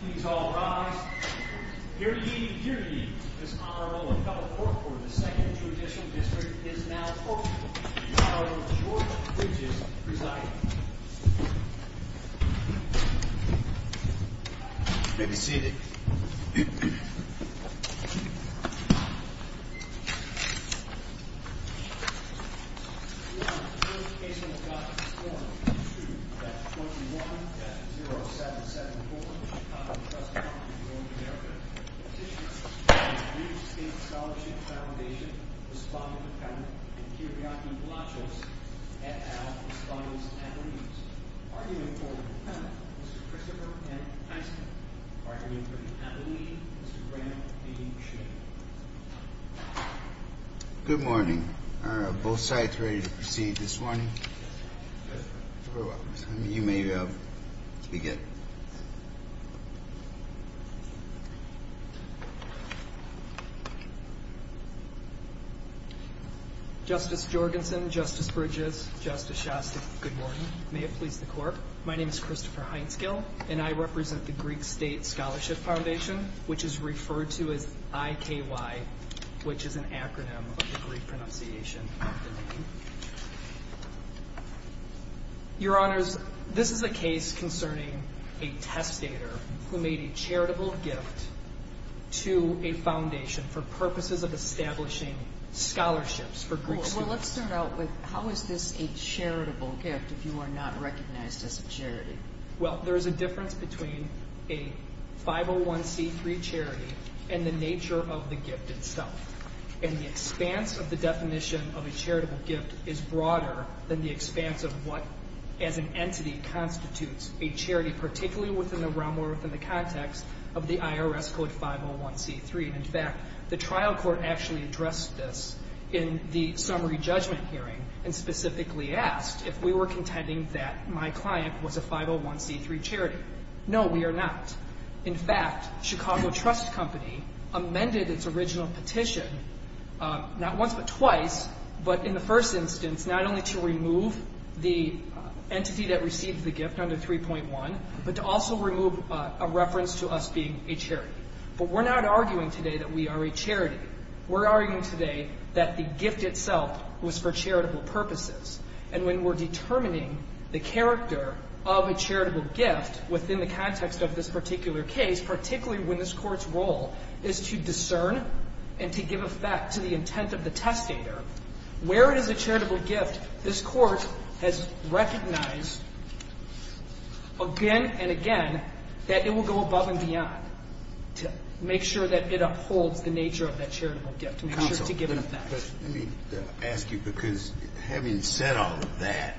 Please all rise. Hear ye, hear ye. This Honorable Appellate Court for the 2nd Traditional District is now open. The Honorable George Bridges presiding. Take a seat. The Honorable George Casement Scott is sworn in. That's 21-0774, Chicago Trust Co. N.A. Petitioner from the New State Scholarship Foundation. Respondent Appellant and Kyriaki Blachos, et al. Respondents and Regents. Arguing for an appellate, Mr. Christopher N. Tyson. Arguing for an appellate, Mr. Randall B. Shane. Good morning. Are both sides ready to proceed this morning? Yes, Your Honor. You may begin. Justice Jorgensen, Justice Bridges, Justice Shastak, good morning. May it please the Court. My name is Christopher Heinskill, and I represent the Greek State Scholarship Foundation, which is referred to as IKY, which is an acronym of the Greek pronunciation of the name. Your Honors, this is a case concerning a testator who made a charitable gift to a foundation for purposes of establishing scholarships for Greek students. Well, let's start out with how is this a charitable gift if you are not recognized as a charity? Well, there is a difference between a 501c3 charity and the nature of the gift itself. And the expanse of the definition of a charitable gift is broader than the expanse of what, as an entity, constitutes a charity, particularly within the realm or within the context of the IRS Code 501c3. In fact, the trial court actually addressed this in the summary judgment hearing and specifically asked if we were contending that my client was a 501c3 charity. No, we are not. In fact, Chicago Trust Company amended its original petition not once but twice, but in the first instance not only to remove the entity that received the gift under 3.1, but to also remove a reference to us being a charity. But we're not arguing today that we are a charity. We're arguing today that the gift itself was for charitable purposes. And when we're determining the character of a charitable gift within the context of this particular case, particularly when this Court's role is to discern and to give effect to the intent of the testator, where it is a charitable gift, this Court has recognized again and again that it will go above and beyond to make sure that it upholds the nature of that charitable gift and to give it effect. Let me ask you, because having said all of that,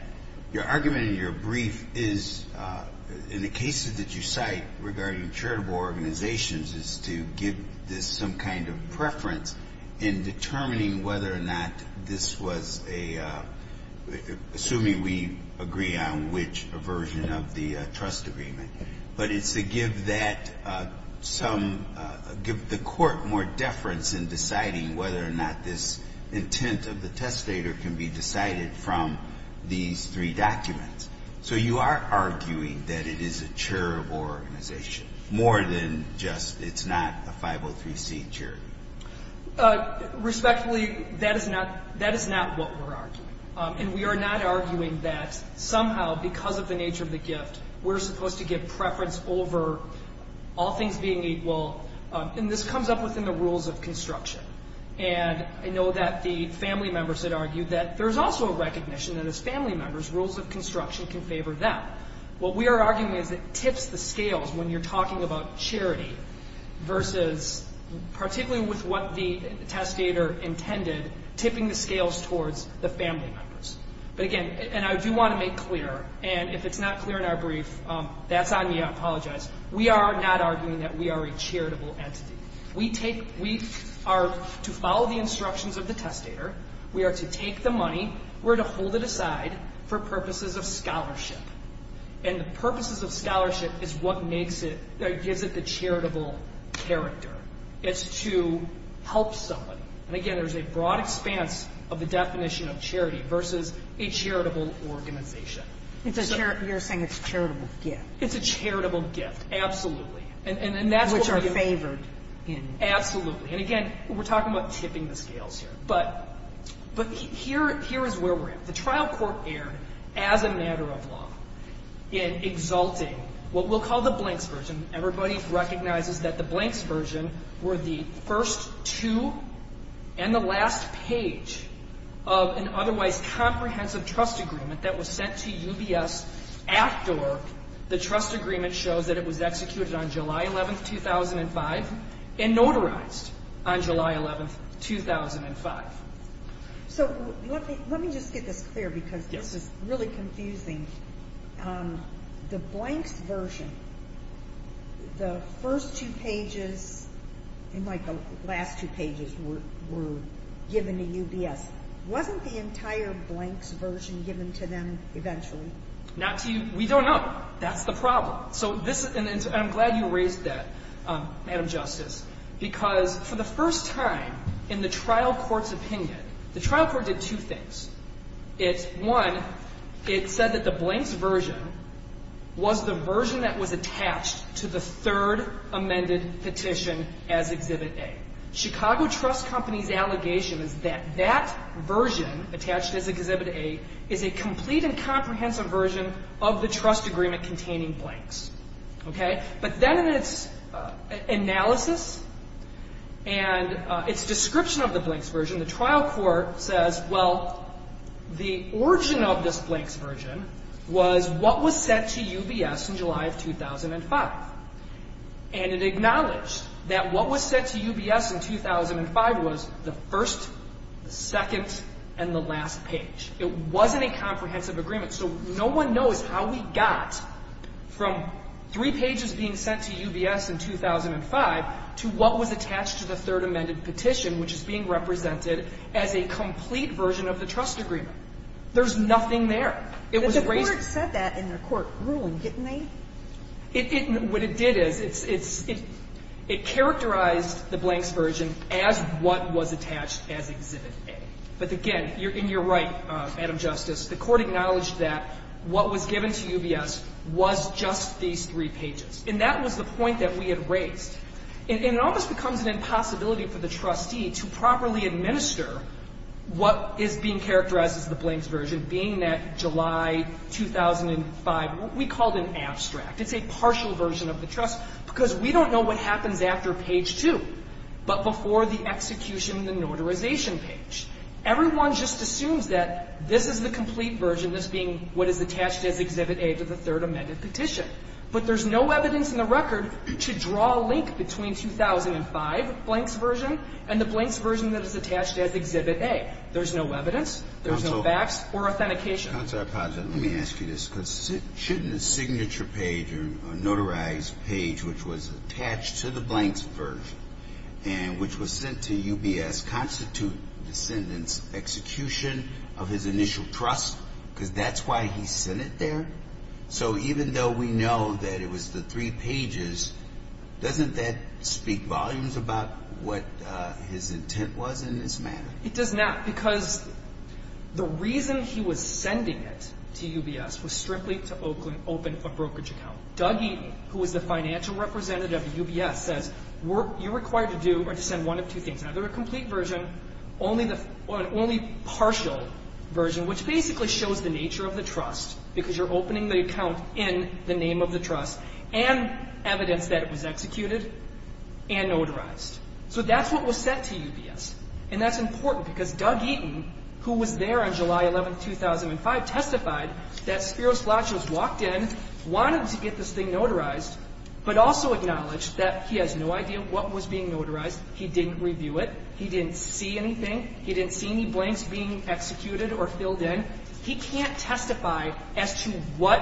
your argument in your brief is, in the cases that you cite regarding charitable organizations, is to give this some kind of preference in determining whether or not this was a, assuming we agree on which version of the trust agreement, but it's to give that some, give the Court more deference in deciding whether or not this intent of the testator can be decided from these three documents. So you are arguing that it is a charitable organization, more than just it's not a 503C charity. Respectfully, that is not what we're arguing. And we are not arguing that somehow, because of the nature of the gift, we're supposed to give preference over all things being equal. And this comes up within the rules of construction. And I know that the family members had argued that there's also a recognition that as family members, rules of construction can favor them. What we are arguing is it tips the scales when you're talking about charity versus, particularly with what the testator intended, tipping the scales towards the family members. But again, and I do want to make clear, and if it's not clear in our brief, that's on me. I apologize. We are not arguing that we are a charitable entity. We take, we are to follow the instructions of the testator. We are to take the money. We're to hold it aside for purposes of scholarship. And the purposes of scholarship is what makes it, gives it the charitable character. It's to help someone. And again, there's a broad expanse of the definition of charity versus a charitable organization. It's a charitable, you're saying it's a charitable gift. It's a charitable gift, absolutely. And that's what we're doing. Which are favored in. Absolutely. And again, we're talking about tipping the scales here. But here is where we're at. The trial court erred, as a matter of law, in exalting what we'll call the blanks version. Everybody recognizes that the blanks version were the first two and the last page of an otherwise comprehensive trust agreement that was sent to UBS after the trust agreement shows that it was executed on July 11, 2005 and notarized on July 11, 2005. So let me just get this clear because this is really confusing. The blanks version, the first two pages and like the last two pages were given to UBS. Wasn't the entire blanks version given to them eventually? Not to you. We don't know. That's the problem. I'm glad you raised that, Madam Justice, because for the first time in the trial court's opinion, the trial court did two things. One, it said that the blanks version was the version that was attached to the third amended petition as Exhibit A. Chicago Trust Company's allegation is that that version attached as Exhibit A is a complete and comprehensive version of the trust agreement containing blanks. Okay? But then in its analysis and its description of the blanks version, the trial court says, well, the origin of this blanks version was what was sent to UBS in July of 2005. And it acknowledged that what was sent to UBS in 2005 was the first, second, and the last page. It wasn't a comprehensive agreement. So no one knows how we got from three pages being sent to UBS in 2005 to what was attached to the third amended petition, which is being represented as a complete version of the trust agreement. There's nothing there. But the court said that in their court ruling, didn't they? What it did is it characterized the blanks version as what was attached as Exhibit A. But again, and you're right, Madam Justice, the court acknowledged that what was given to UBS was just these three pages. And that was the point that we had raised. And it almost becomes an impossibility for the trustee to properly administer what is being characterized as the blanks version, being that July 2005, we call it an abstract. It's a partial version of the trust, because we don't know what happens after page 2, but before the execution of the notarization page. Everyone just assumes that this is the complete version, this being what is attached as Exhibit A to the third amended petition. But there's no evidence in the record to draw a link between 2005 blanks version and the blanks version that is attached as Exhibit A. There's no evidence. There's no facts or authentication. Let me ask you this. Shouldn't a signature page or a notarized page which was attached to the blanks version and which was sent to UBS constitute the descendant's execution of his initial trust, because that's why he sent it there? So even though we know that it was the three pages, doesn't that speak volumes about what his intent was in this matter? It does not, because the reason he was sending it to UBS was strictly to open a brokerage account. Doug Eaton, who was the financial representative at UBS, says you're required to send one of two things, either a complete version or an only partial version, which basically shows the nature of the trust, because you're opening the account in the name of the trust and evidence that it was executed and notarized. So that's what was sent to UBS. And that's important, because Doug Eaton, who was there on July 11, 2005, testified that Spiros Flachos walked in, wanted to get this thing notarized, but also acknowledged that he has no idea what was being notarized. He didn't review it. He didn't see anything. He didn't see any blanks being executed or filled in. He can't testify as to what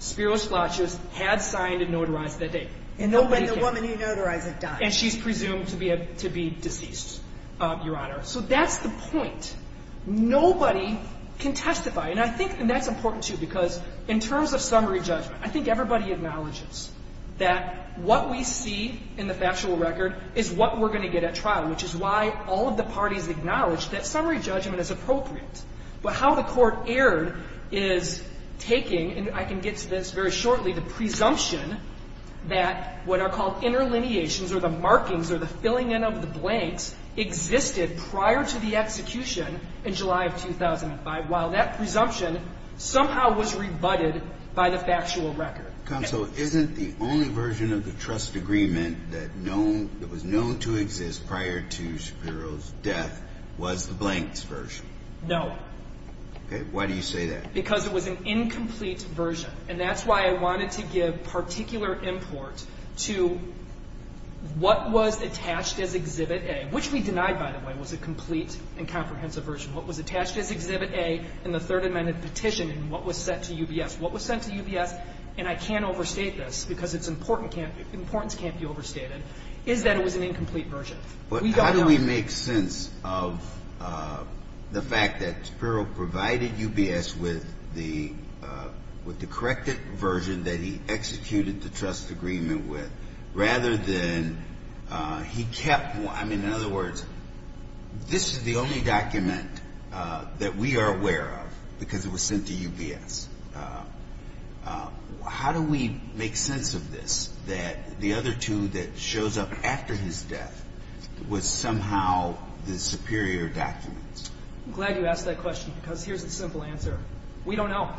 Spiros Flachos had signed and notarized that day. And when the woman he notarized had died. And she's presumed to be deceased, Your Honor. So that's the point. Nobody can testify. And I think that's important, too, because in terms of summary judgment, I think everybody acknowledges that what we see in the factual record is what we're going to get at trial, which is why all of the parties acknowledge that summary judgment is appropriate. But how the Court erred is taking, and I can get to this very shortly, the presumption that what are called interlineations or the markings or the filling in of the blanks existed prior to the execution in July of 2005, while that presumption somehow was rebutted by the factual record. Counsel, isn't the only version of the trust agreement that was known to exist prior to Spiros' death was the blanks version? No. Okay. Why do you say that? Because it was an incomplete version. And that's why I wanted to give particular import to what was attached as Exhibit A, which we denied, by the way, was a complete and comprehensive version. What was attached as Exhibit A in the Third Amendment petition and what was sent to UBS. What was sent to UBS, and I can't overstate this because its importance can't be overstated, is that it was an incomplete version. We don't know. How do we make sense of the fact that Spiros provided UBS with the corrected version that he executed the trust agreement with, rather than he kept, I mean, in other words, this is the only document that we are aware of because it was sent to UBS. How do we make sense of this, that the other two that shows up after his death was somehow the superior documents? I'm glad you asked that question because here's the simple answer. We don't know.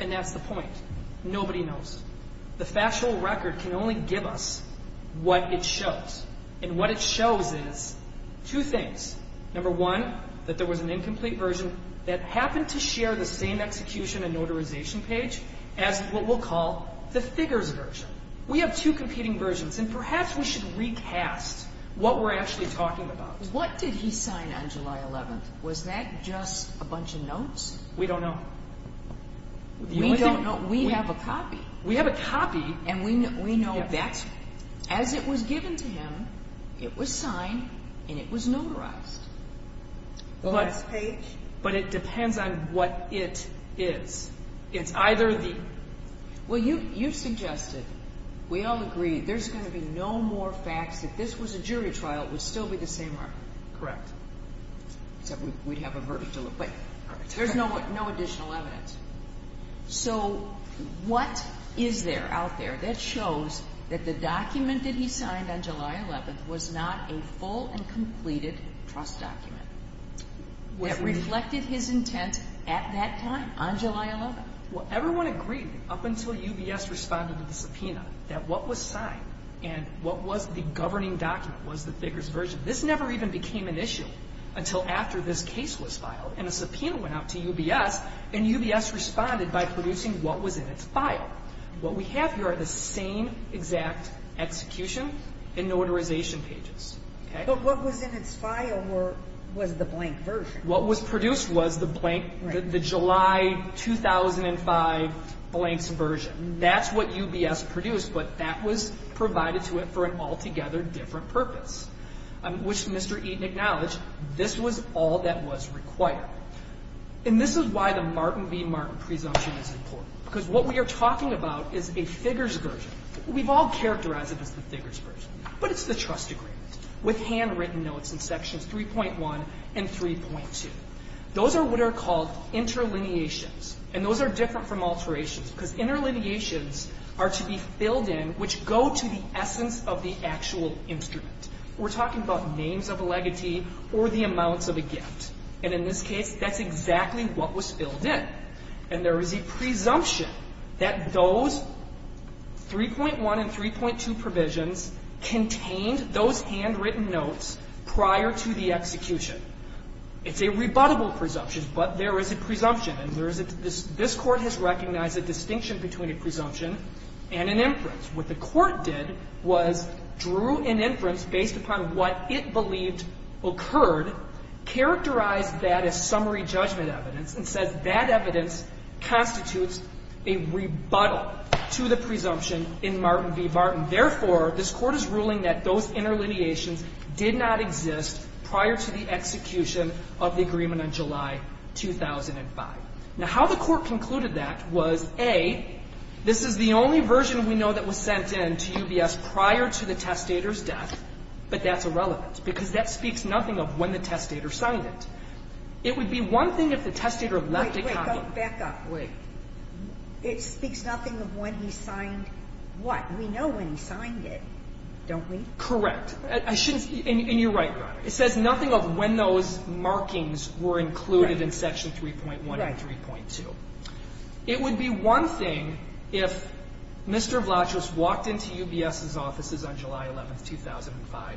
And that's the point. Nobody knows. The factual record can only give us what it shows. And what it shows is two things. Number one, that there was an incomplete version that happened to share the same execution and notarization page as what we'll call the figures version. We have two competing versions, and perhaps we should recast what we're actually talking about. What did he sign on July 11th? Was that just a bunch of notes? We don't know. We don't know. We have a copy. We have a copy. And we know that as it was given to him, it was signed and it was notarized. But it depends on what it is. Well, you suggested, we all agree, there's going to be no more facts. If this was a jury trial, it would still be the same article. Correct. Except we'd have a verdict to look at. But there's no additional evidence. So what is there out there that shows that the document that he signed on July 11th was not a full and completed trust document? It reflected his intent at that time, on July 11th. Well, everyone agreed up until UBS responded to the subpoena that what was signed and what was the governing document was the figures version. This never even became an issue until after this case was filed. And a subpoena went out to UBS, and UBS responded by producing what was in its file. What we have here are the same exact execution and notarization pages. But what was in its file was the blank version. What was produced was the blank, the July 2005 blanks version. That's what UBS produced, but that was provided to it for an altogether different purpose, which Mr. Eaton acknowledged, this was all that was required. And this is why the Martin v. Martin presumption is important. Because what we are talking about is a figures version. We've all characterized it as the figures version. But it's the trust agreement with handwritten notes in sections 3.1 and 3.2. Those are what are called interlineations, and those are different from alterations because interlineations are to be filled in which go to the essence of the actual instrument. We're talking about names of a legatee or the amounts of a gift. And in this case, that's exactly what was filled in. And there is a presumption that those 3.1 and 3.2 provisions contained those handwritten notes prior to the execution. It's a rebuttable presumption, but there is a presumption. And there is a this Court has recognized a distinction between a presumption and an inference. What the Court did was drew an inference based upon what it believed occurred, characterized that as summary judgment evidence, and says that evidence constitutes a rebuttal to the presumption in Martin v. Martin. Therefore, this Court is ruling that those interlineations did not exist prior to the execution of the agreement on July 2005. Now, how the Court concluded that was, A, this is the only version we know that was sent in to UBS prior to the testator's death, but that's irrelevant, because that would be one thing if the testator signed it. It would be one thing if the testator left a copy. Wait, wait. Go back up. Wait. It speaks nothing of when he signed what? We know when he signed it, don't we? Correct. I shouldn't be – and you're right, Your Honor. It says nothing of when those markings were included in Section 3.1 and 3.2. Right. It would be one thing if Mr. Vlachos walked into UBS's offices on July 11, 2005,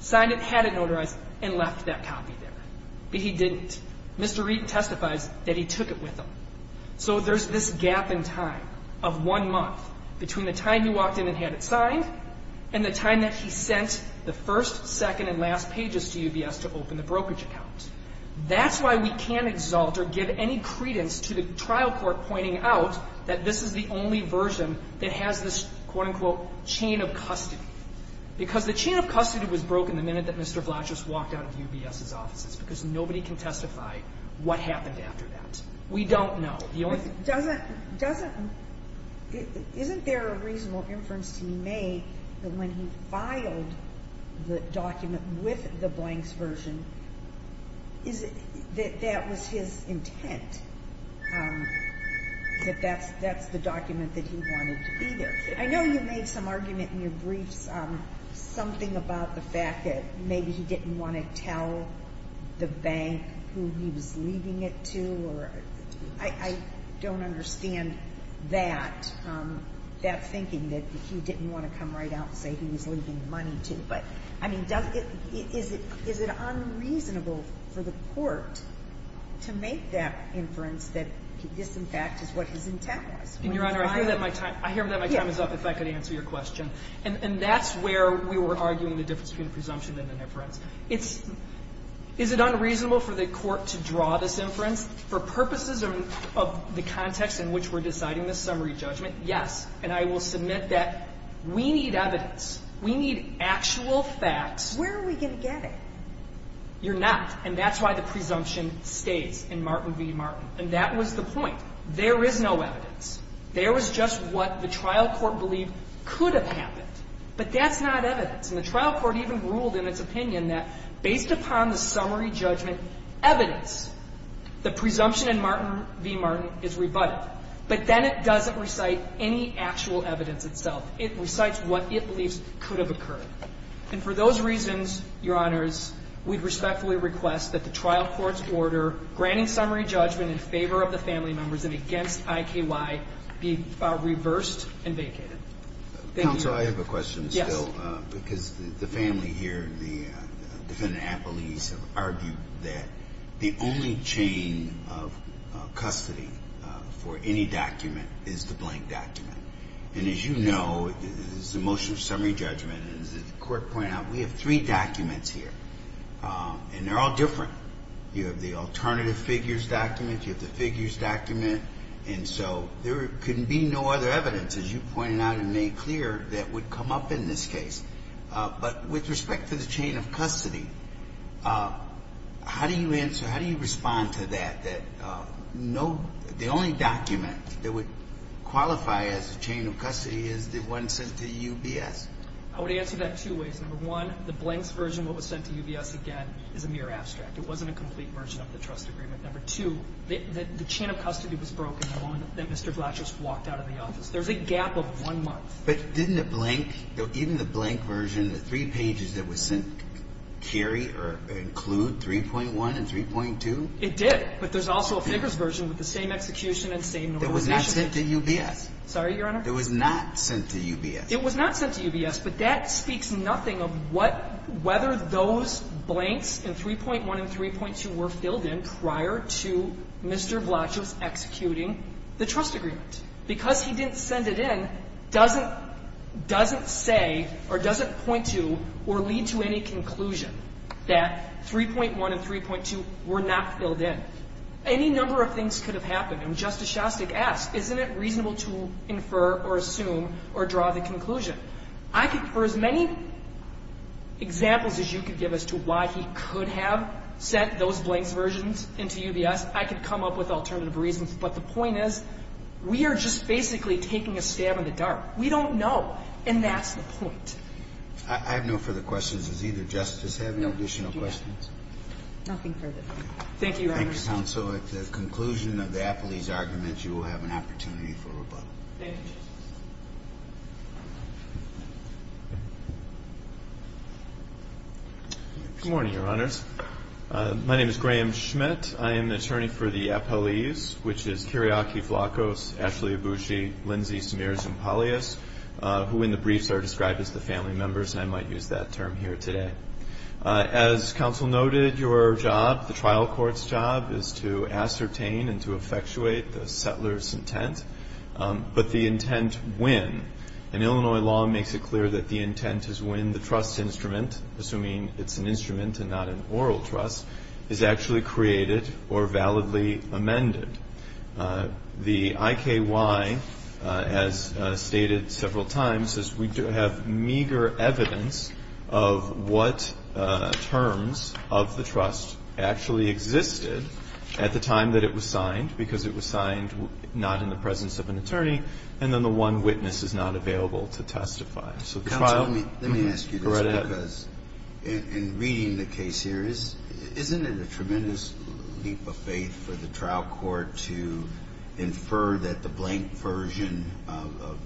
signed it, had it notarized, and left that copy there. But he didn't. Mr. Reid testifies that he took it with him. So there's this gap in time of one month between the time he walked in and had it signed and the time that he sent the first, second, and last pages to UBS to open the brokerage account. That's why we can't exalt or give any credence to the trial court pointing out that this is the only version that has this, quote-unquote, chain of custody. Because the chain of custody was broken the minute that Mr. Vlachos walked out of UBS's offices because nobody can testify what happened after that. We don't know. The only thing – Doesn't – doesn't – isn't there a reasonable inference to make that when he – that that was his intent, that that's the document that he wanted to be there? I know you made some argument in your briefs, something about the fact that maybe he didn't want to tell the bank who he was leaving it to or – I don't understand that, that thinking, that he didn't want to come right out and say he was leaving the money to. But, I mean, does – is it unreasonable for the court to make that inference that this, in fact, is what his intent was? And your Honor, I hear that my time – I hear that my time is up, if I could answer your question. And that's where we were arguing the difference between a presumption and an inference. It's – is it unreasonable for the court to draw this inference? For purposes of the context in which we're deciding this summary judgment, yes. And I will submit that we need evidence. We need actual facts. Where are we going to get it? You're not. And that's why the presumption stays in Martin v. Martin. And that was the point. There is no evidence. There was just what the trial court believed could have happened. But that's not evidence. And the trial court even ruled in its opinion that based upon the summary judgment evidence, the presumption in Martin v. Martin is rebutted. But then it doesn't recite any actual evidence itself. It recites what it believes could have occurred. And for those reasons, Your Honors, we respectfully request that the trial court's order granting summary judgment in favor of the family members and against IKY be reversed and vacated. Thank you. Counsel, I have a question still. Yes. Because the family here, the defendant appellees, have argued that the only chain of custody for any document is the blank document. And as you know, this is a motion of summary judgment. And as the court pointed out, we have three documents here. And they're all different. You have the alternative figures document. You have the figures document. And so there could be no other evidence, as you pointed out and made clear, that would come up in this case. But with respect to the chain of custody, how do you answer, how do you respond to that, that the only document that would qualify as a chain of custody is the one sent to UBS? I would answer that two ways. Number one, the blanks version, what was sent to UBS again, is a mere abstract. It wasn't a complete version of the trust agreement. Number two, the chain of custody was broken the moment that Mr. Blatcher walked out of the office. There's a gap of one month. But didn't the blank, even the blank version, the three pages that were sent, carry or include 3.1 and 3.2? It did. But there's also a figures version with the same execution and same normalization. It was not sent to UBS. Sorry, Your Honor? It was not sent to UBS. It was not sent to UBS. But that speaks nothing of what, whether those blanks in 3.1 and 3.2 were filled in prior to Mr. Blatcher's executing the trust agreement. Because he didn't send it in doesn't say or doesn't point to or lead to any conclusion that 3.1 and 3.2 were not filled in. Any number of things could have happened. And Justice Shostak asked, isn't it reasonable to infer or assume or draw the conclusion? I could, for as many examples as you could give as to why he could have sent those blanks versions into UBS, I could come up with alternative reasons. But the point is, we are just basically taking a stab in the dark. We don't know. And that's the point. I have no further questions. Does either Justice have any additional questions? Nothing further. Thank you, Your Honor. Thank you, Counsel. At the conclusion of the Appellee's argument, you will have an opportunity for rebuttal. Thank you, Justice. Good morning, Your Honors. My name is Graham Schmidt. I am an attorney for the Appellees, which is Kiriaki Flacos, Ashley Ibushi, Lindsay Samirez, and Polyus, who in the briefs are described as the family members, and I might use that term here today. As Counsel noted, your job, the trial court's job, is to ascertain and to effectuate the settler's intent, but the intent when. And Illinois law makes it clear that the intent is when the trust instrument, assuming it's an instrument and not an oral trust, is actually created or validly amended. The IKY, as stated several times, says we do have meager evidence of what terms of the trust actually existed at the time that it was signed because it was signed not in the presence of an attorney, and then the one witness is not available to testify. So trial. Let me ask you this, because in reading the case here, isn't it a tremendous leap of faith for the trial court to infer that the blank version of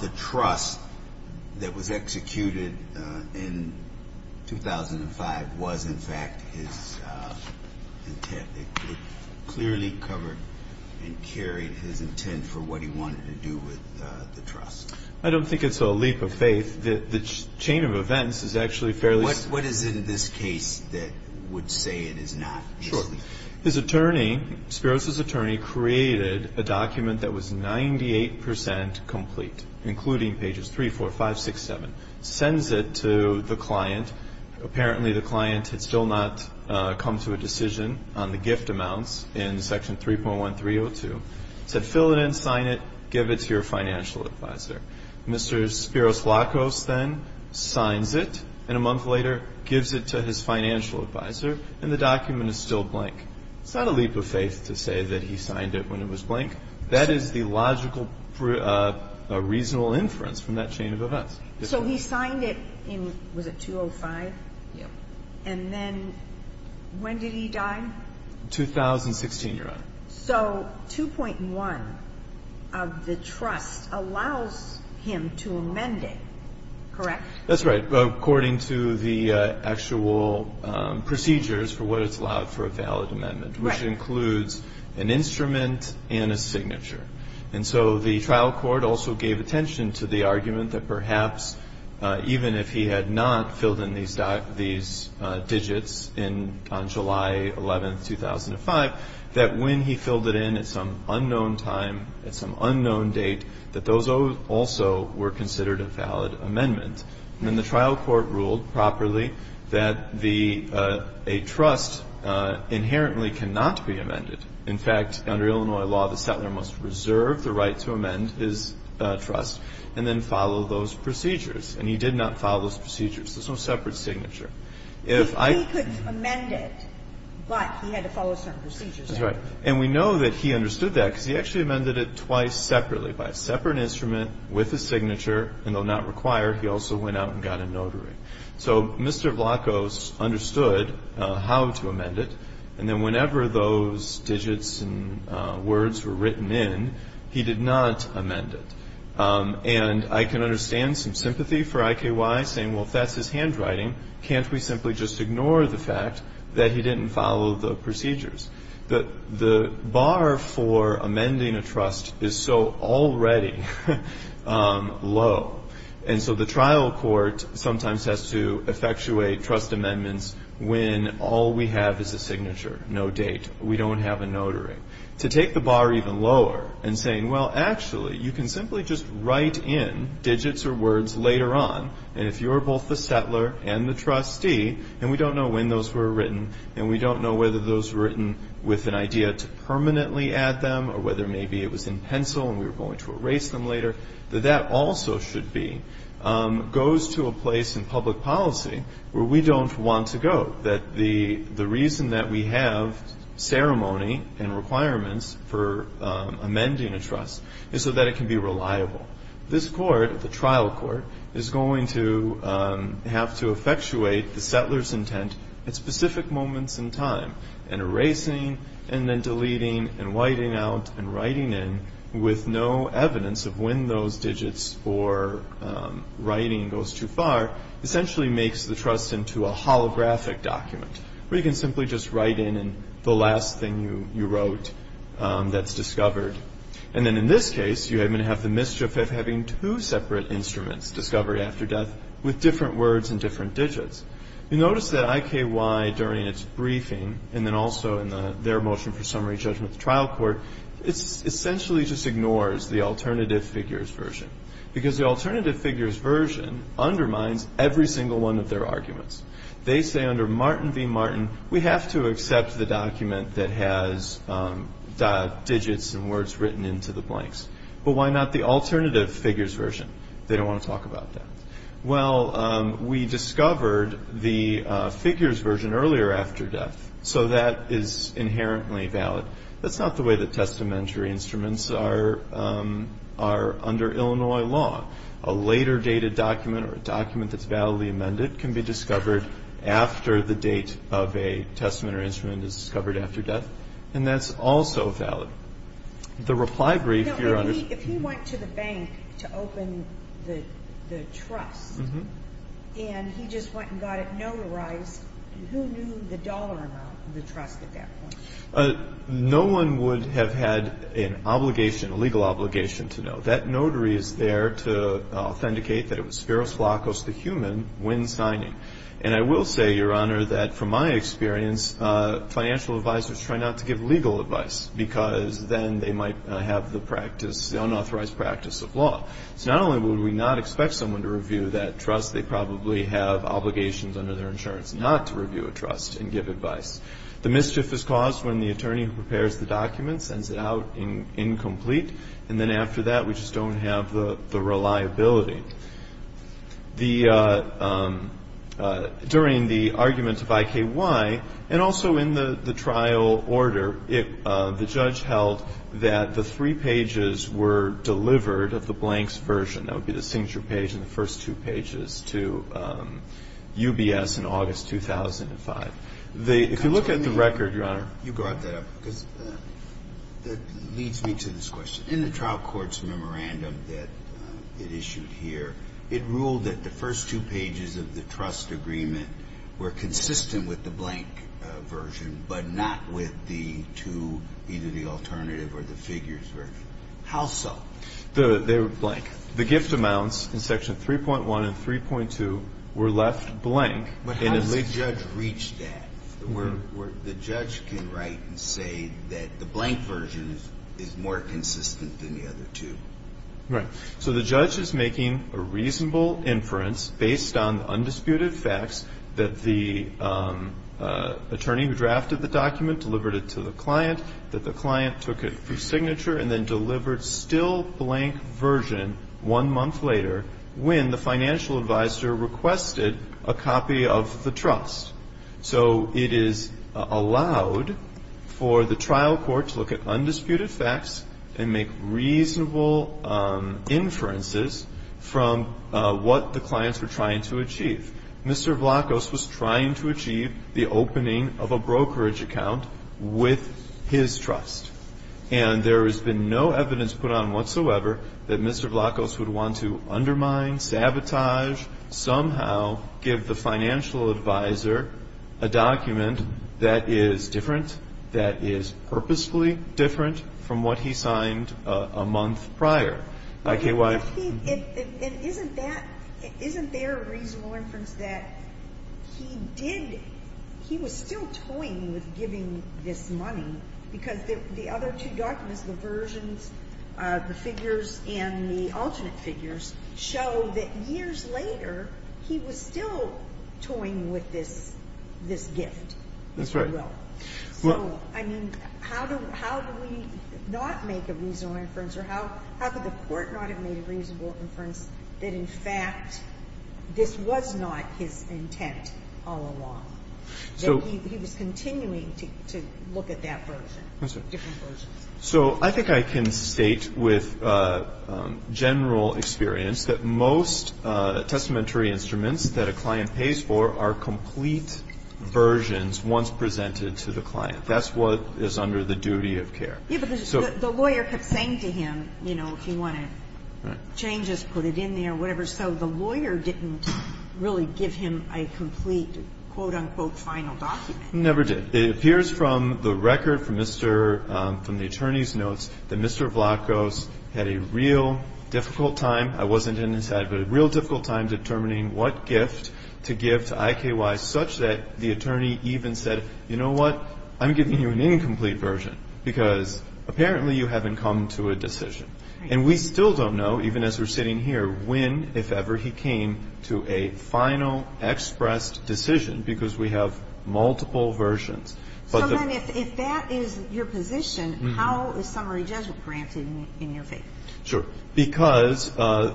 the trust that was executed in 2005 was in fact his intent? It clearly covered and carried his intent for what he wanted to do with the trust. I don't think it's a leap of faith. The chain of events is actually fairly simple. What is it in this case that would say it is not? His attorney, Spiros' attorney, created a document that was 98 percent complete, including pages 3, 4, 5, 6, 7. Sends it to the client. Apparently the client had still not come to a decision on the gift amounts in Section 3.1302. Said fill it in, sign it, give it to your financial advisor. Mr. Spiros-Lacoste then signs it, and a month later gives it to his financial advisor, and the document is still blank. It's not a leap of faith to say that he signed it when it was blank. That is the logical, reasonable inference from that chain of events. So he signed it in, was it 2005? And then when did he die? 2016, Your Honor. So 2.1 of the trust allows him to amend it, correct? That's right. According to the actual procedures for what it's allowed for a valid amendment. Right. Which includes an instrument and a signature. And so the trial court also gave attention to the argument that perhaps even if he had not filled in these digits on July 11, 2005, that when he filled it in at some unknown time, at some unknown date, that those also were considered a valid amendment. And then the trial court ruled properly that a trust inherently cannot be amended. In fact, under Illinois law, the settler must reserve the right to amend his trust and then follow those procedures. And he did not follow those procedures. There's no separate signature. If I could amend it, but he had to follow certain procedures. That's right. And we know that he understood that because he actually amended it twice separately, by a separate instrument with a signature, and though not required, he also went out and got a notary. So Mr. Vlachos understood how to amend it, and then whenever those digits and words were written in, he did not amend it. And I can understand some sympathy for IKY saying, well, if that's his handwriting, can't we simply just ignore the fact that he didn't follow the procedures? The bar for amending a trust is so already low, and so the trial court sometimes has to effectuate trust amendments when all we have is a signature, no date. We don't have a notary. To take the bar even lower and saying, well, actually, you can simply just write in digits or words later on, and if you're both the settler and the trustee, and we don't know when those were written, and we don't know whether those were written with an idea to permanently add them or whether maybe it was in pencil and we were going to erase them later, that that also should be, goes to a place in public policy where we don't want to go, that the reason that we have ceremony and requirements for amending a trust is so that it can be reliable. This court, the trial court, is going to have to effectuate the settler's intent at specific moments in time. And erasing and then deleting and whiting out and writing in with no evidence of when those digits or writing goes too far essentially makes the trust into a holographic document where you can simply just write in the last thing you wrote that's discovered. And then in this case, you're going to have the mischief of having two separate instruments, discovery after death, with different words and different digits. You notice that IKY during its briefing and then also in their motion for summary judgment at the trial court, it essentially just ignores the alternative figures version because the alternative figures version undermines every single one of their arguments. They say under Martin v. Martin, we have to accept the document that has digits and words written into the blanks. But why not the alternative figures version? They don't want to talk about that. Well, we discovered the figures version earlier after death, so that is inherently valid. That's not the way that testamentary instruments are under Illinois law. A later dated document or a document that's validly amended can be discovered after the date of a testament or instrument is discovered after death, and that's also valid. The reply brief, Your Honor. If he went to the bank to open the trust and he just went and got it notarized, who knew the dollar amount of the trust at that point? No one would have had an obligation, a legal obligation to know. That notary is there to authenticate that it was spiros flacos, the human, when signing. And I will say, Your Honor, that from my experience, financial advisors try not to give legal advice because then they might have the practice, the unauthorized practice of law. So not only would we not expect someone to review that trust, they probably have obligations under their insurance not to review a trust and give advice. The mischief is caused when the attorney who prepares the document sends it out incomplete, and then after that we just don't have the reliability. During the argument of IKY, and also in the trial order, the judge held that the three pages were delivered of the blanks version. That would be the signature page and the first two pages to UBS in August 2005. You brought that up because that leads me to this question. In the trial court's memorandum that it issued here, it ruled that the first two pages of the trust agreement were consistent with the blank version but not with the two, either the alternative or the figures version. How so? They were blank. The gift amounts in Section 3.1 and 3.2 were left blank. But how does the judge reach that? The judge can write and say that the blank version is more consistent than the other two. Right. So the judge is making a reasonable inference, based on the undisputed facts, that the attorney who drafted the document delivered it to the client, that the client took it for signature, and then delivered still blank version one month later when the financial advisor requested a copy of the trust. So it is allowed for the trial court to look at undisputed facts and make reasonable inferences from what the clients were trying to achieve. Mr. Vlachos was trying to achieve the opening of a brokerage account with his trust. And there has been no evidence put on whatsoever that Mr. Vlachos would want to undermine, sabotage, somehow give the financial advisor a document that is different, that is purposefully different from what he signed a month prior. I.K.Y. And isn't that, isn't there a reasonable inference that he did, he was still toying with giving this money because the other two documents, the versions, the figures, and the alternate figures, show that years later he was still toying with this gift. That's right. So, I mean, how do we not make a reasonable inference, or how could the Court not have made a reasonable inference that, in fact, this was not his intent all along? So he was continuing to look at that version, different versions. So I think I can state with general experience that most testamentary instruments that a client pays for are complete versions once presented to the client. That's what is under the duty of care. Yes, but the lawyer kept saying to him, you know, if you want to change this, put it in there, whatever. So the lawyer didn't really give him a complete, quote, unquote, final document. He never did. It appears from the record from the attorney's notes that Mr. Vlachos had a real difficult time, I wasn't in his head, but a real difficult time determining what gift to give to IKY, such that the attorney even said, you know what, I'm giving you an incomplete version, because apparently you haven't come to a decision. And we still don't know, even as we're sitting here, when, if ever, he came to a final expressed decision, because we have multiple versions. So then if that is your position, how is summary judgment granted in your favor? Sure. Because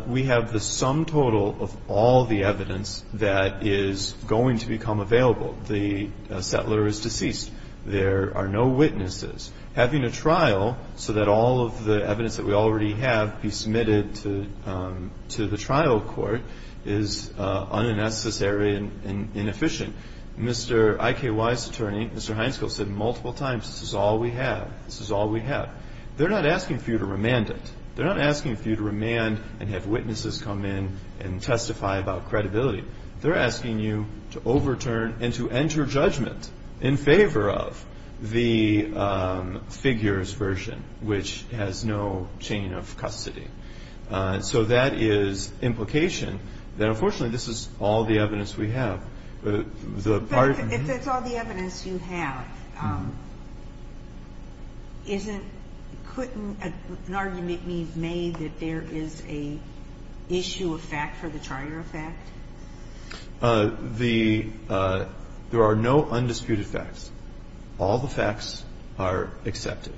we have the sum total of all the evidence that is going to become available. The settler is deceased. There are no witnesses. Having a trial so that all of the evidence that we already have be submitted to the trial court is unnecessary and inefficient. Mr. IKY's attorney, Mr. Hynskill, said multiple times, this is all we have. This is all we have. They're not asking for you to remand it. They're not asking for you to remand and have witnesses come in and testify about credibility. They're asking you to overturn and to enter judgment in favor of the figures version, which has no chain of custody. So that is implication that, unfortunately, this is all the evidence we have. But the part of the ---- But if that's all the evidence you have, isn't ---- couldn't an argument be made that there is a issue of fact for the charter of fact? The ---- there are no undisputed facts. All the facts are accepted.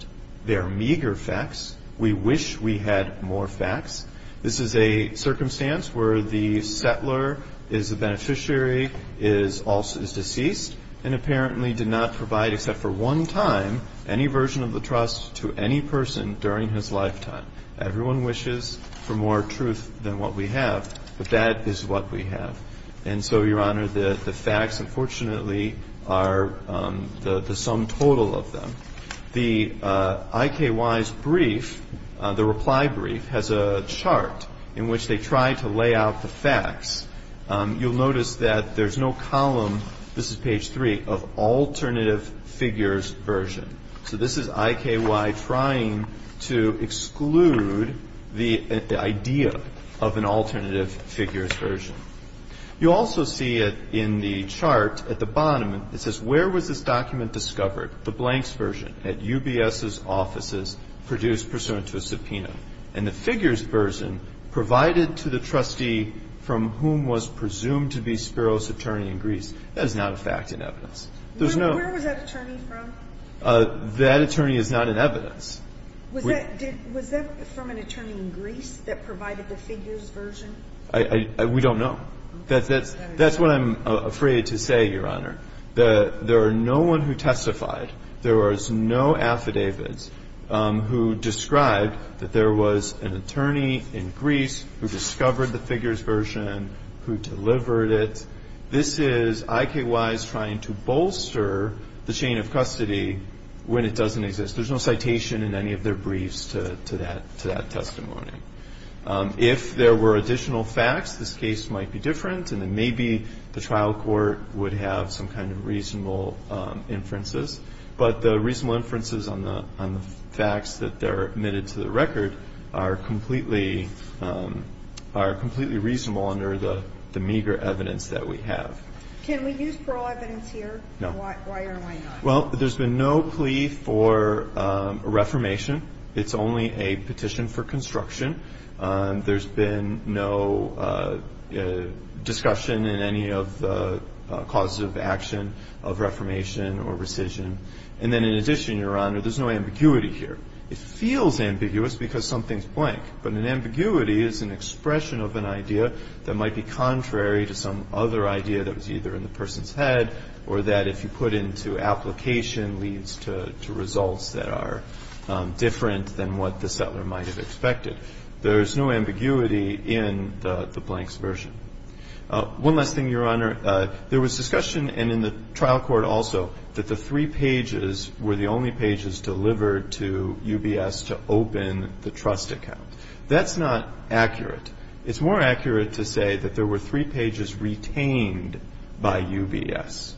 They are meager facts. We wish we had more facts. This is a circumstance where the settler is a beneficiary, is also ---- is deceased and apparently did not provide, except for one time, any version of the trust to any person during his lifetime. Everyone wishes for more truth than what we have, but that is what we have. And so, Your Honor, the facts, unfortunately, are the sum total of them. The IKY's brief, the reply brief, has a chart in which they try to lay out the facts. You'll notice that there's no column, this is page 3, of alternative figures version. So this is IKY trying to exclude the idea of an alternative figures version. You also see it in the chart at the bottom. It says, where was this document discovered? The blanks version at UBS's offices produced pursuant to a subpoena. And the figures version provided to the trustee from whom was presumed to be Spiro's attorney in Greece. That is not a fact in evidence. There's no ---- But that attorney is not in evidence. Was that from an attorney in Greece that provided the figures version? We don't know. That's what I'm afraid to say, Your Honor. There are no one who testified. There was no affidavits who described that there was an attorney in Greece who discovered the figures version, who delivered it. This is IKY's trying to bolster the chain of custody when it doesn't exist. There's no citation in any of their briefs to that testimony. If there were additional facts, this case might be different, and then maybe the trial court would have some kind of reasonable inferences. But the reasonable inferences on the facts that are admitted to the record are completely reasonable under the meager evidence that we have. Can we use parole evidence here? No. Why or why not? Well, there's been no plea for a reformation. It's only a petition for construction. There's been no discussion in any of the causes of action of reformation or rescission. And then in addition, Your Honor, there's no ambiguity here. It feels ambiguous because something's blank. But an ambiguity is an expression of an idea that might be contrary to some other idea that was either in the person's head or that if you put into application leads to results that are different than what the settler might have expected. There's no ambiguity in the blanks version. One last thing, Your Honor. There was discussion, and in the trial court also, that the three pages were the only pages delivered to UBS to open the trust account. That's not accurate. It's more accurate to say that there were three pages retained by UBS.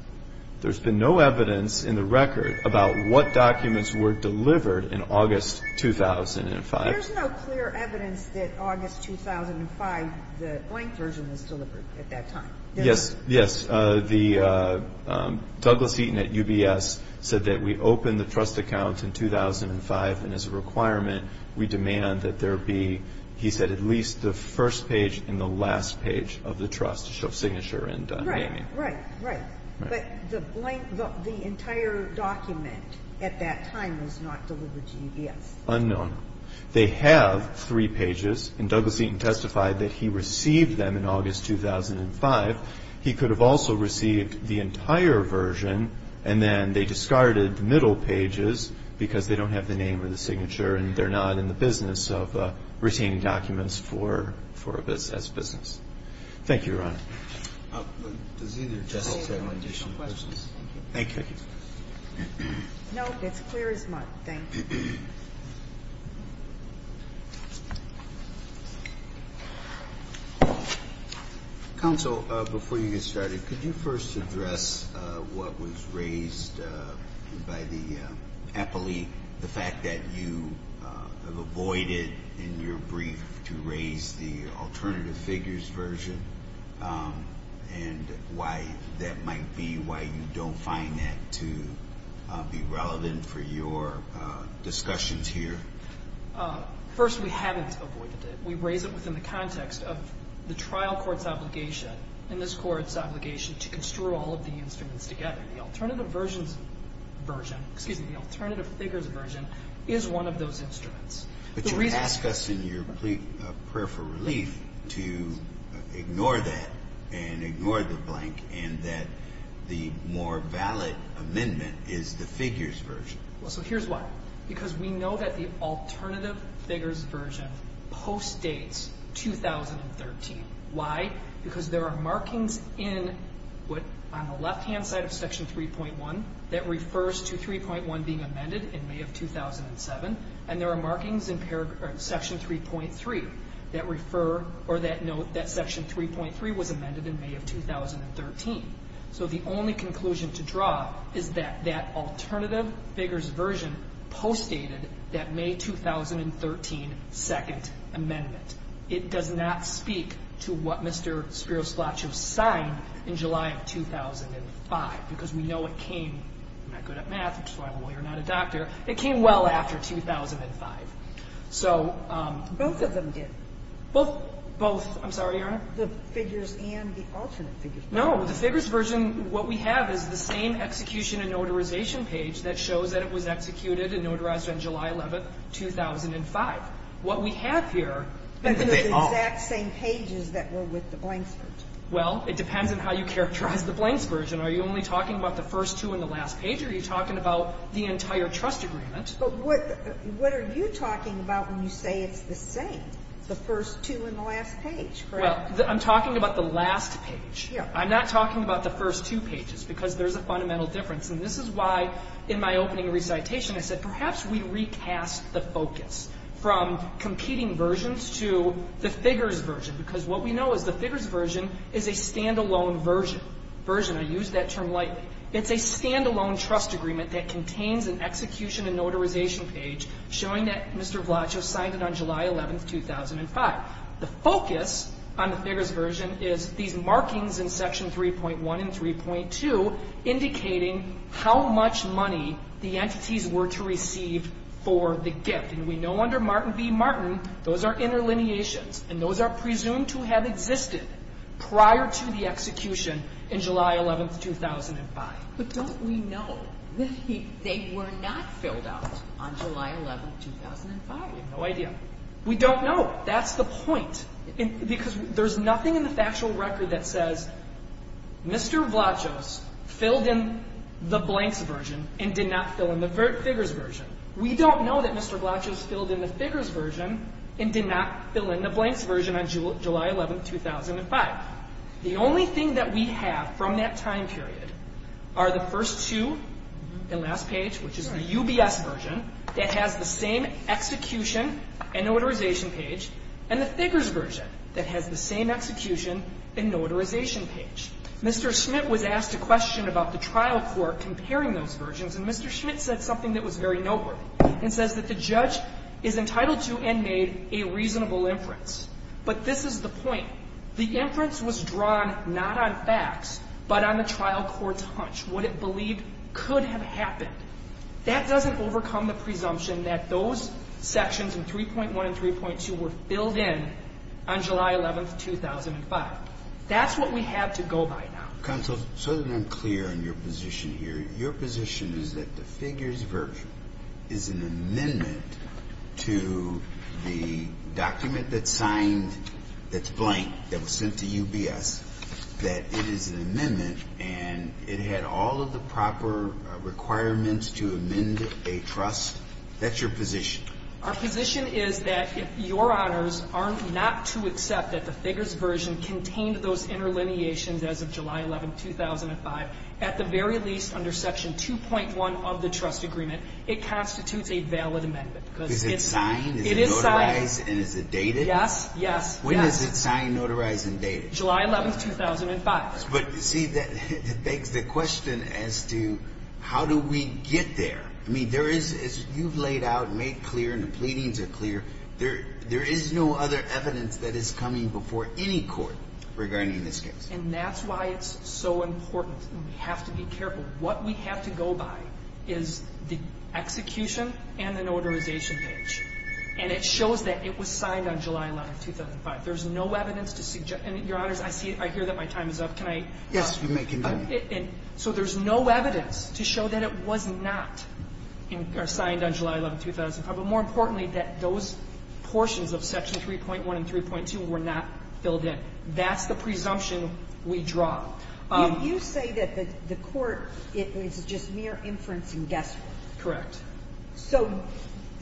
There's been no evidence in the record about what documents were delivered in August 2005. There's no clear evidence that August 2005, the blank version was delivered at that time. Yes, yes. Douglas Eaton at UBS said that we opened the trust account in 2005, and as a requirement we demand that there be, he said, at least the first page and the last page of the trust to show signature and naming. Right, right, right. But the entire document at that time was not delivered to UBS. Unknown. They have three pages, and Douglas Eaton testified that he received them in August 2005. He could have also received the entire version, and then they discarded the middle pages because they don't have the name or the signature and they're not in the business of retaining documents for UBS as business. Thank you, Your Honor. Thank you. No, it's clear as mud. Thank you. Counsel, before you get started, could you first address what was raised by the appellee, the fact that you have avoided in your brief to raise the alternative figures version and why that might be, and why you don't find that to be relevant for your discussions here? First, we haven't avoided it. We raise it within the context of the trial court's obligation and this court's obligation to construe all of the instruments together. The alternative versions version, excuse me, the alternative figures version is one of those instruments. But you ask us in your prayer for relief to ignore that and ignore the blank and that the more valid amendment is the figures version. Well, so here's why. Because we know that the alternative figures version postdates 2013. Why? Because there are markings on the left-hand side of Section 3.1 that refers to 3.1 being amended in May of 2007, and there are markings in Section 3.3 that refer So the only conclusion to draw is that that alternative figures version postdated that May 2013 Second Amendment. It does not speak to what Mr. Spiros-Blachos signed in July of 2005 because we know it came, I'm not good at math, which is why I'm a lawyer, not a doctor, it came well after 2005. Both of them did. Both, I'm sorry, Your Honor? The figures and the alternate figures. No, the figures version, what we have is the same execution and notarization page that shows that it was executed and notarized on July 11, 2005. What we have here is that they are. But they're the exact same pages that were with the blanks version. Well, it depends on how you characterize the blanks version. Are you only talking about the first two and the last page, or are you talking about the entire trust agreement? But what are you talking about when you say it's the same, the first two and the last page? Well, I'm talking about the last page. I'm not talking about the first two pages because there's a fundamental difference. And this is why in my opening recitation I said perhaps we recast the focus from competing versions to the figures version, because what we know is the figures version is a stand-alone version. Version, I use that term lightly. It's a stand-alone trust agreement that contains an execution and notarization page showing that Mr. Blachos signed it on July 11, 2005. The focus on the figures version is these markings in Section 3.1 and 3.2 indicating how much money the entities were to receive for the gift. And we know under Martin v. Martin those are interlineations, and those are presumed to have existed prior to the execution in July 11, 2005. But don't we know they were not filled out on July 11, 2005? You have no idea. We don't know. That's the point, because there's nothing in the factual record that says Mr. Blachos filled in the blanks version and did not fill in the figures version. We don't know that Mr. Blachos filled in the figures version and did not fill in the blanks version on July 11, 2005. The only thing that we have from that time period are the first two and last page, which is the UBS version that has the same execution and notarization page, and the figures version that has the same execution and notarization page. Mr. Schmidt was asked a question about the trial court comparing those versions, and Mr. Schmidt said something that was very noteworthy and says that the judge is entitled to and made a reasonable inference. But this is the point. The inference was drawn not on facts, but on the trial court's hunch, what it believed could have happened. That doesn't overcome the presumption that those sections in 3.1 and 3.2 were filled in on July 11, 2005. That's what we have to go by now. Counsel, so that I'm clear on your position here, your position is that the figures version is an amendment to the document that's signed that's blank, that was sent to UBS, that it is an amendment, and it had all of the proper requirements to amend a trust? That's your position? Our position is that if Your Honors are not to accept that the figures version contained those interlineations as of July 11, 2005, at the very least under Section 2.1 of the trust agreement, it constitutes a valid amendment. Because it's signed? It is signed. Is it notarized and is it dated? Yes, yes. When is it signed, notarized and dated? July 11, 2005. But you see, that begs the question as to how do we get there? I mean, there is, as you've laid out and made clear and the pleadings are clear, there is no other evidence that is coming before any court regarding this case. And that's why it's so important. We have to be careful. What we have to go by is the execution and the notarization page. And it shows that it was signed on July 11, 2005. There is no evidence to suggest, and Your Honors, I see, I hear that my time is up. Can I? Yes, you may continue. So there's no evidence to show that it was not signed on July 11, 2005. But more importantly, that those portions of Section 3.1 and 3.2 were not filled in. That's the presumption we draw. You say that the court, it was just mere inference and guesswork. Correct. So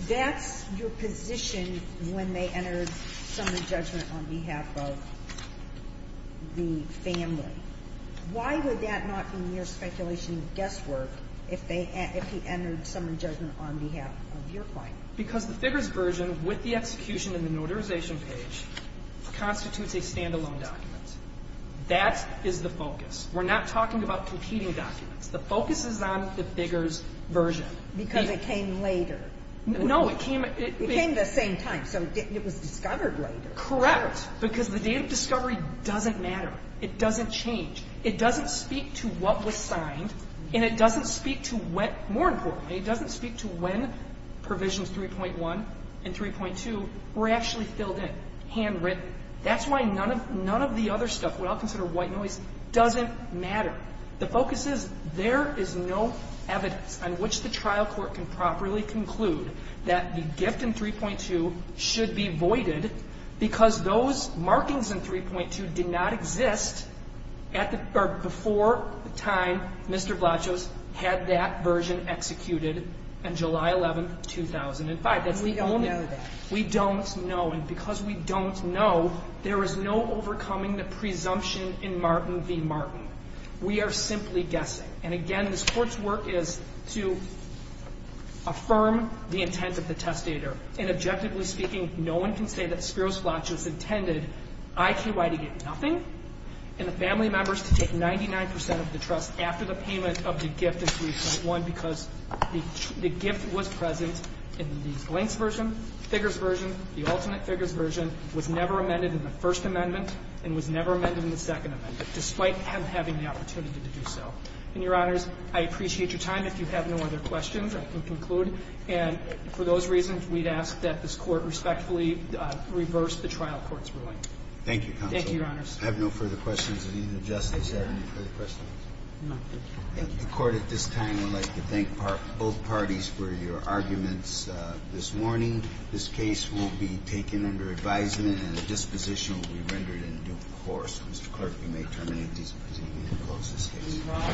that's your position when they entered summary judgment on behalf of the family. Why would that not be mere speculation and guesswork if they entered summary judgment on behalf of your client? Because the figures version with the execution and the notarization page constitutes a stand-alone document. That is the focus. We're not talking about competing documents. The focus is on the figures version. Because it came later. No. It came at the same time. So it was discovered later. Correct. Because the date of discovery doesn't matter. It doesn't change. It doesn't speak to what was signed, and it doesn't speak to when, more importantly, it doesn't speak to when provisions 3.1 and 3.2 were actually filled in, handwritten. That's why none of the other stuff, what I'll consider white noise, doesn't matter. The focus is there is no evidence on which the trial court can properly conclude that the gift in 3.2 should be voided because those markings in 3.2 did not exist before the time Mr. Blachos had that version executed on July 11, 2005. And we don't know that. We don't know. And because we don't know, there is no overcoming the presumption in Martin v. Blachos that we are simply guessing. And, again, this Court's work is to affirm the intent of the testator. And objectively speaking, no one can say that Spiros Blachos intended IQI to get nothing and the family members to take 99 percent of the trust after the payment of the gift in 3.1 because the gift was present in the Glantz version, figures version, the ultimate figures version, was never amended in the First Amendment, and was never amended in the Second Amendment, despite him having the opportunity to do so. And, Your Honors, I appreciate your time. If you have no other questions, I can conclude. And for those reasons, we'd ask that this Court respectfully reverse the trial court's ruling. Thank you, Counsel. Thank you, Your Honors. I have no further questions of either Justice. Is there any further questions? None. Thank you. The Court at this time would like to thank both parties for your arguments this morning. This case will be taken under advisement, and a disposition will be rendered in due course. Mr. Clerk, you may terminate disposition. We will close this case.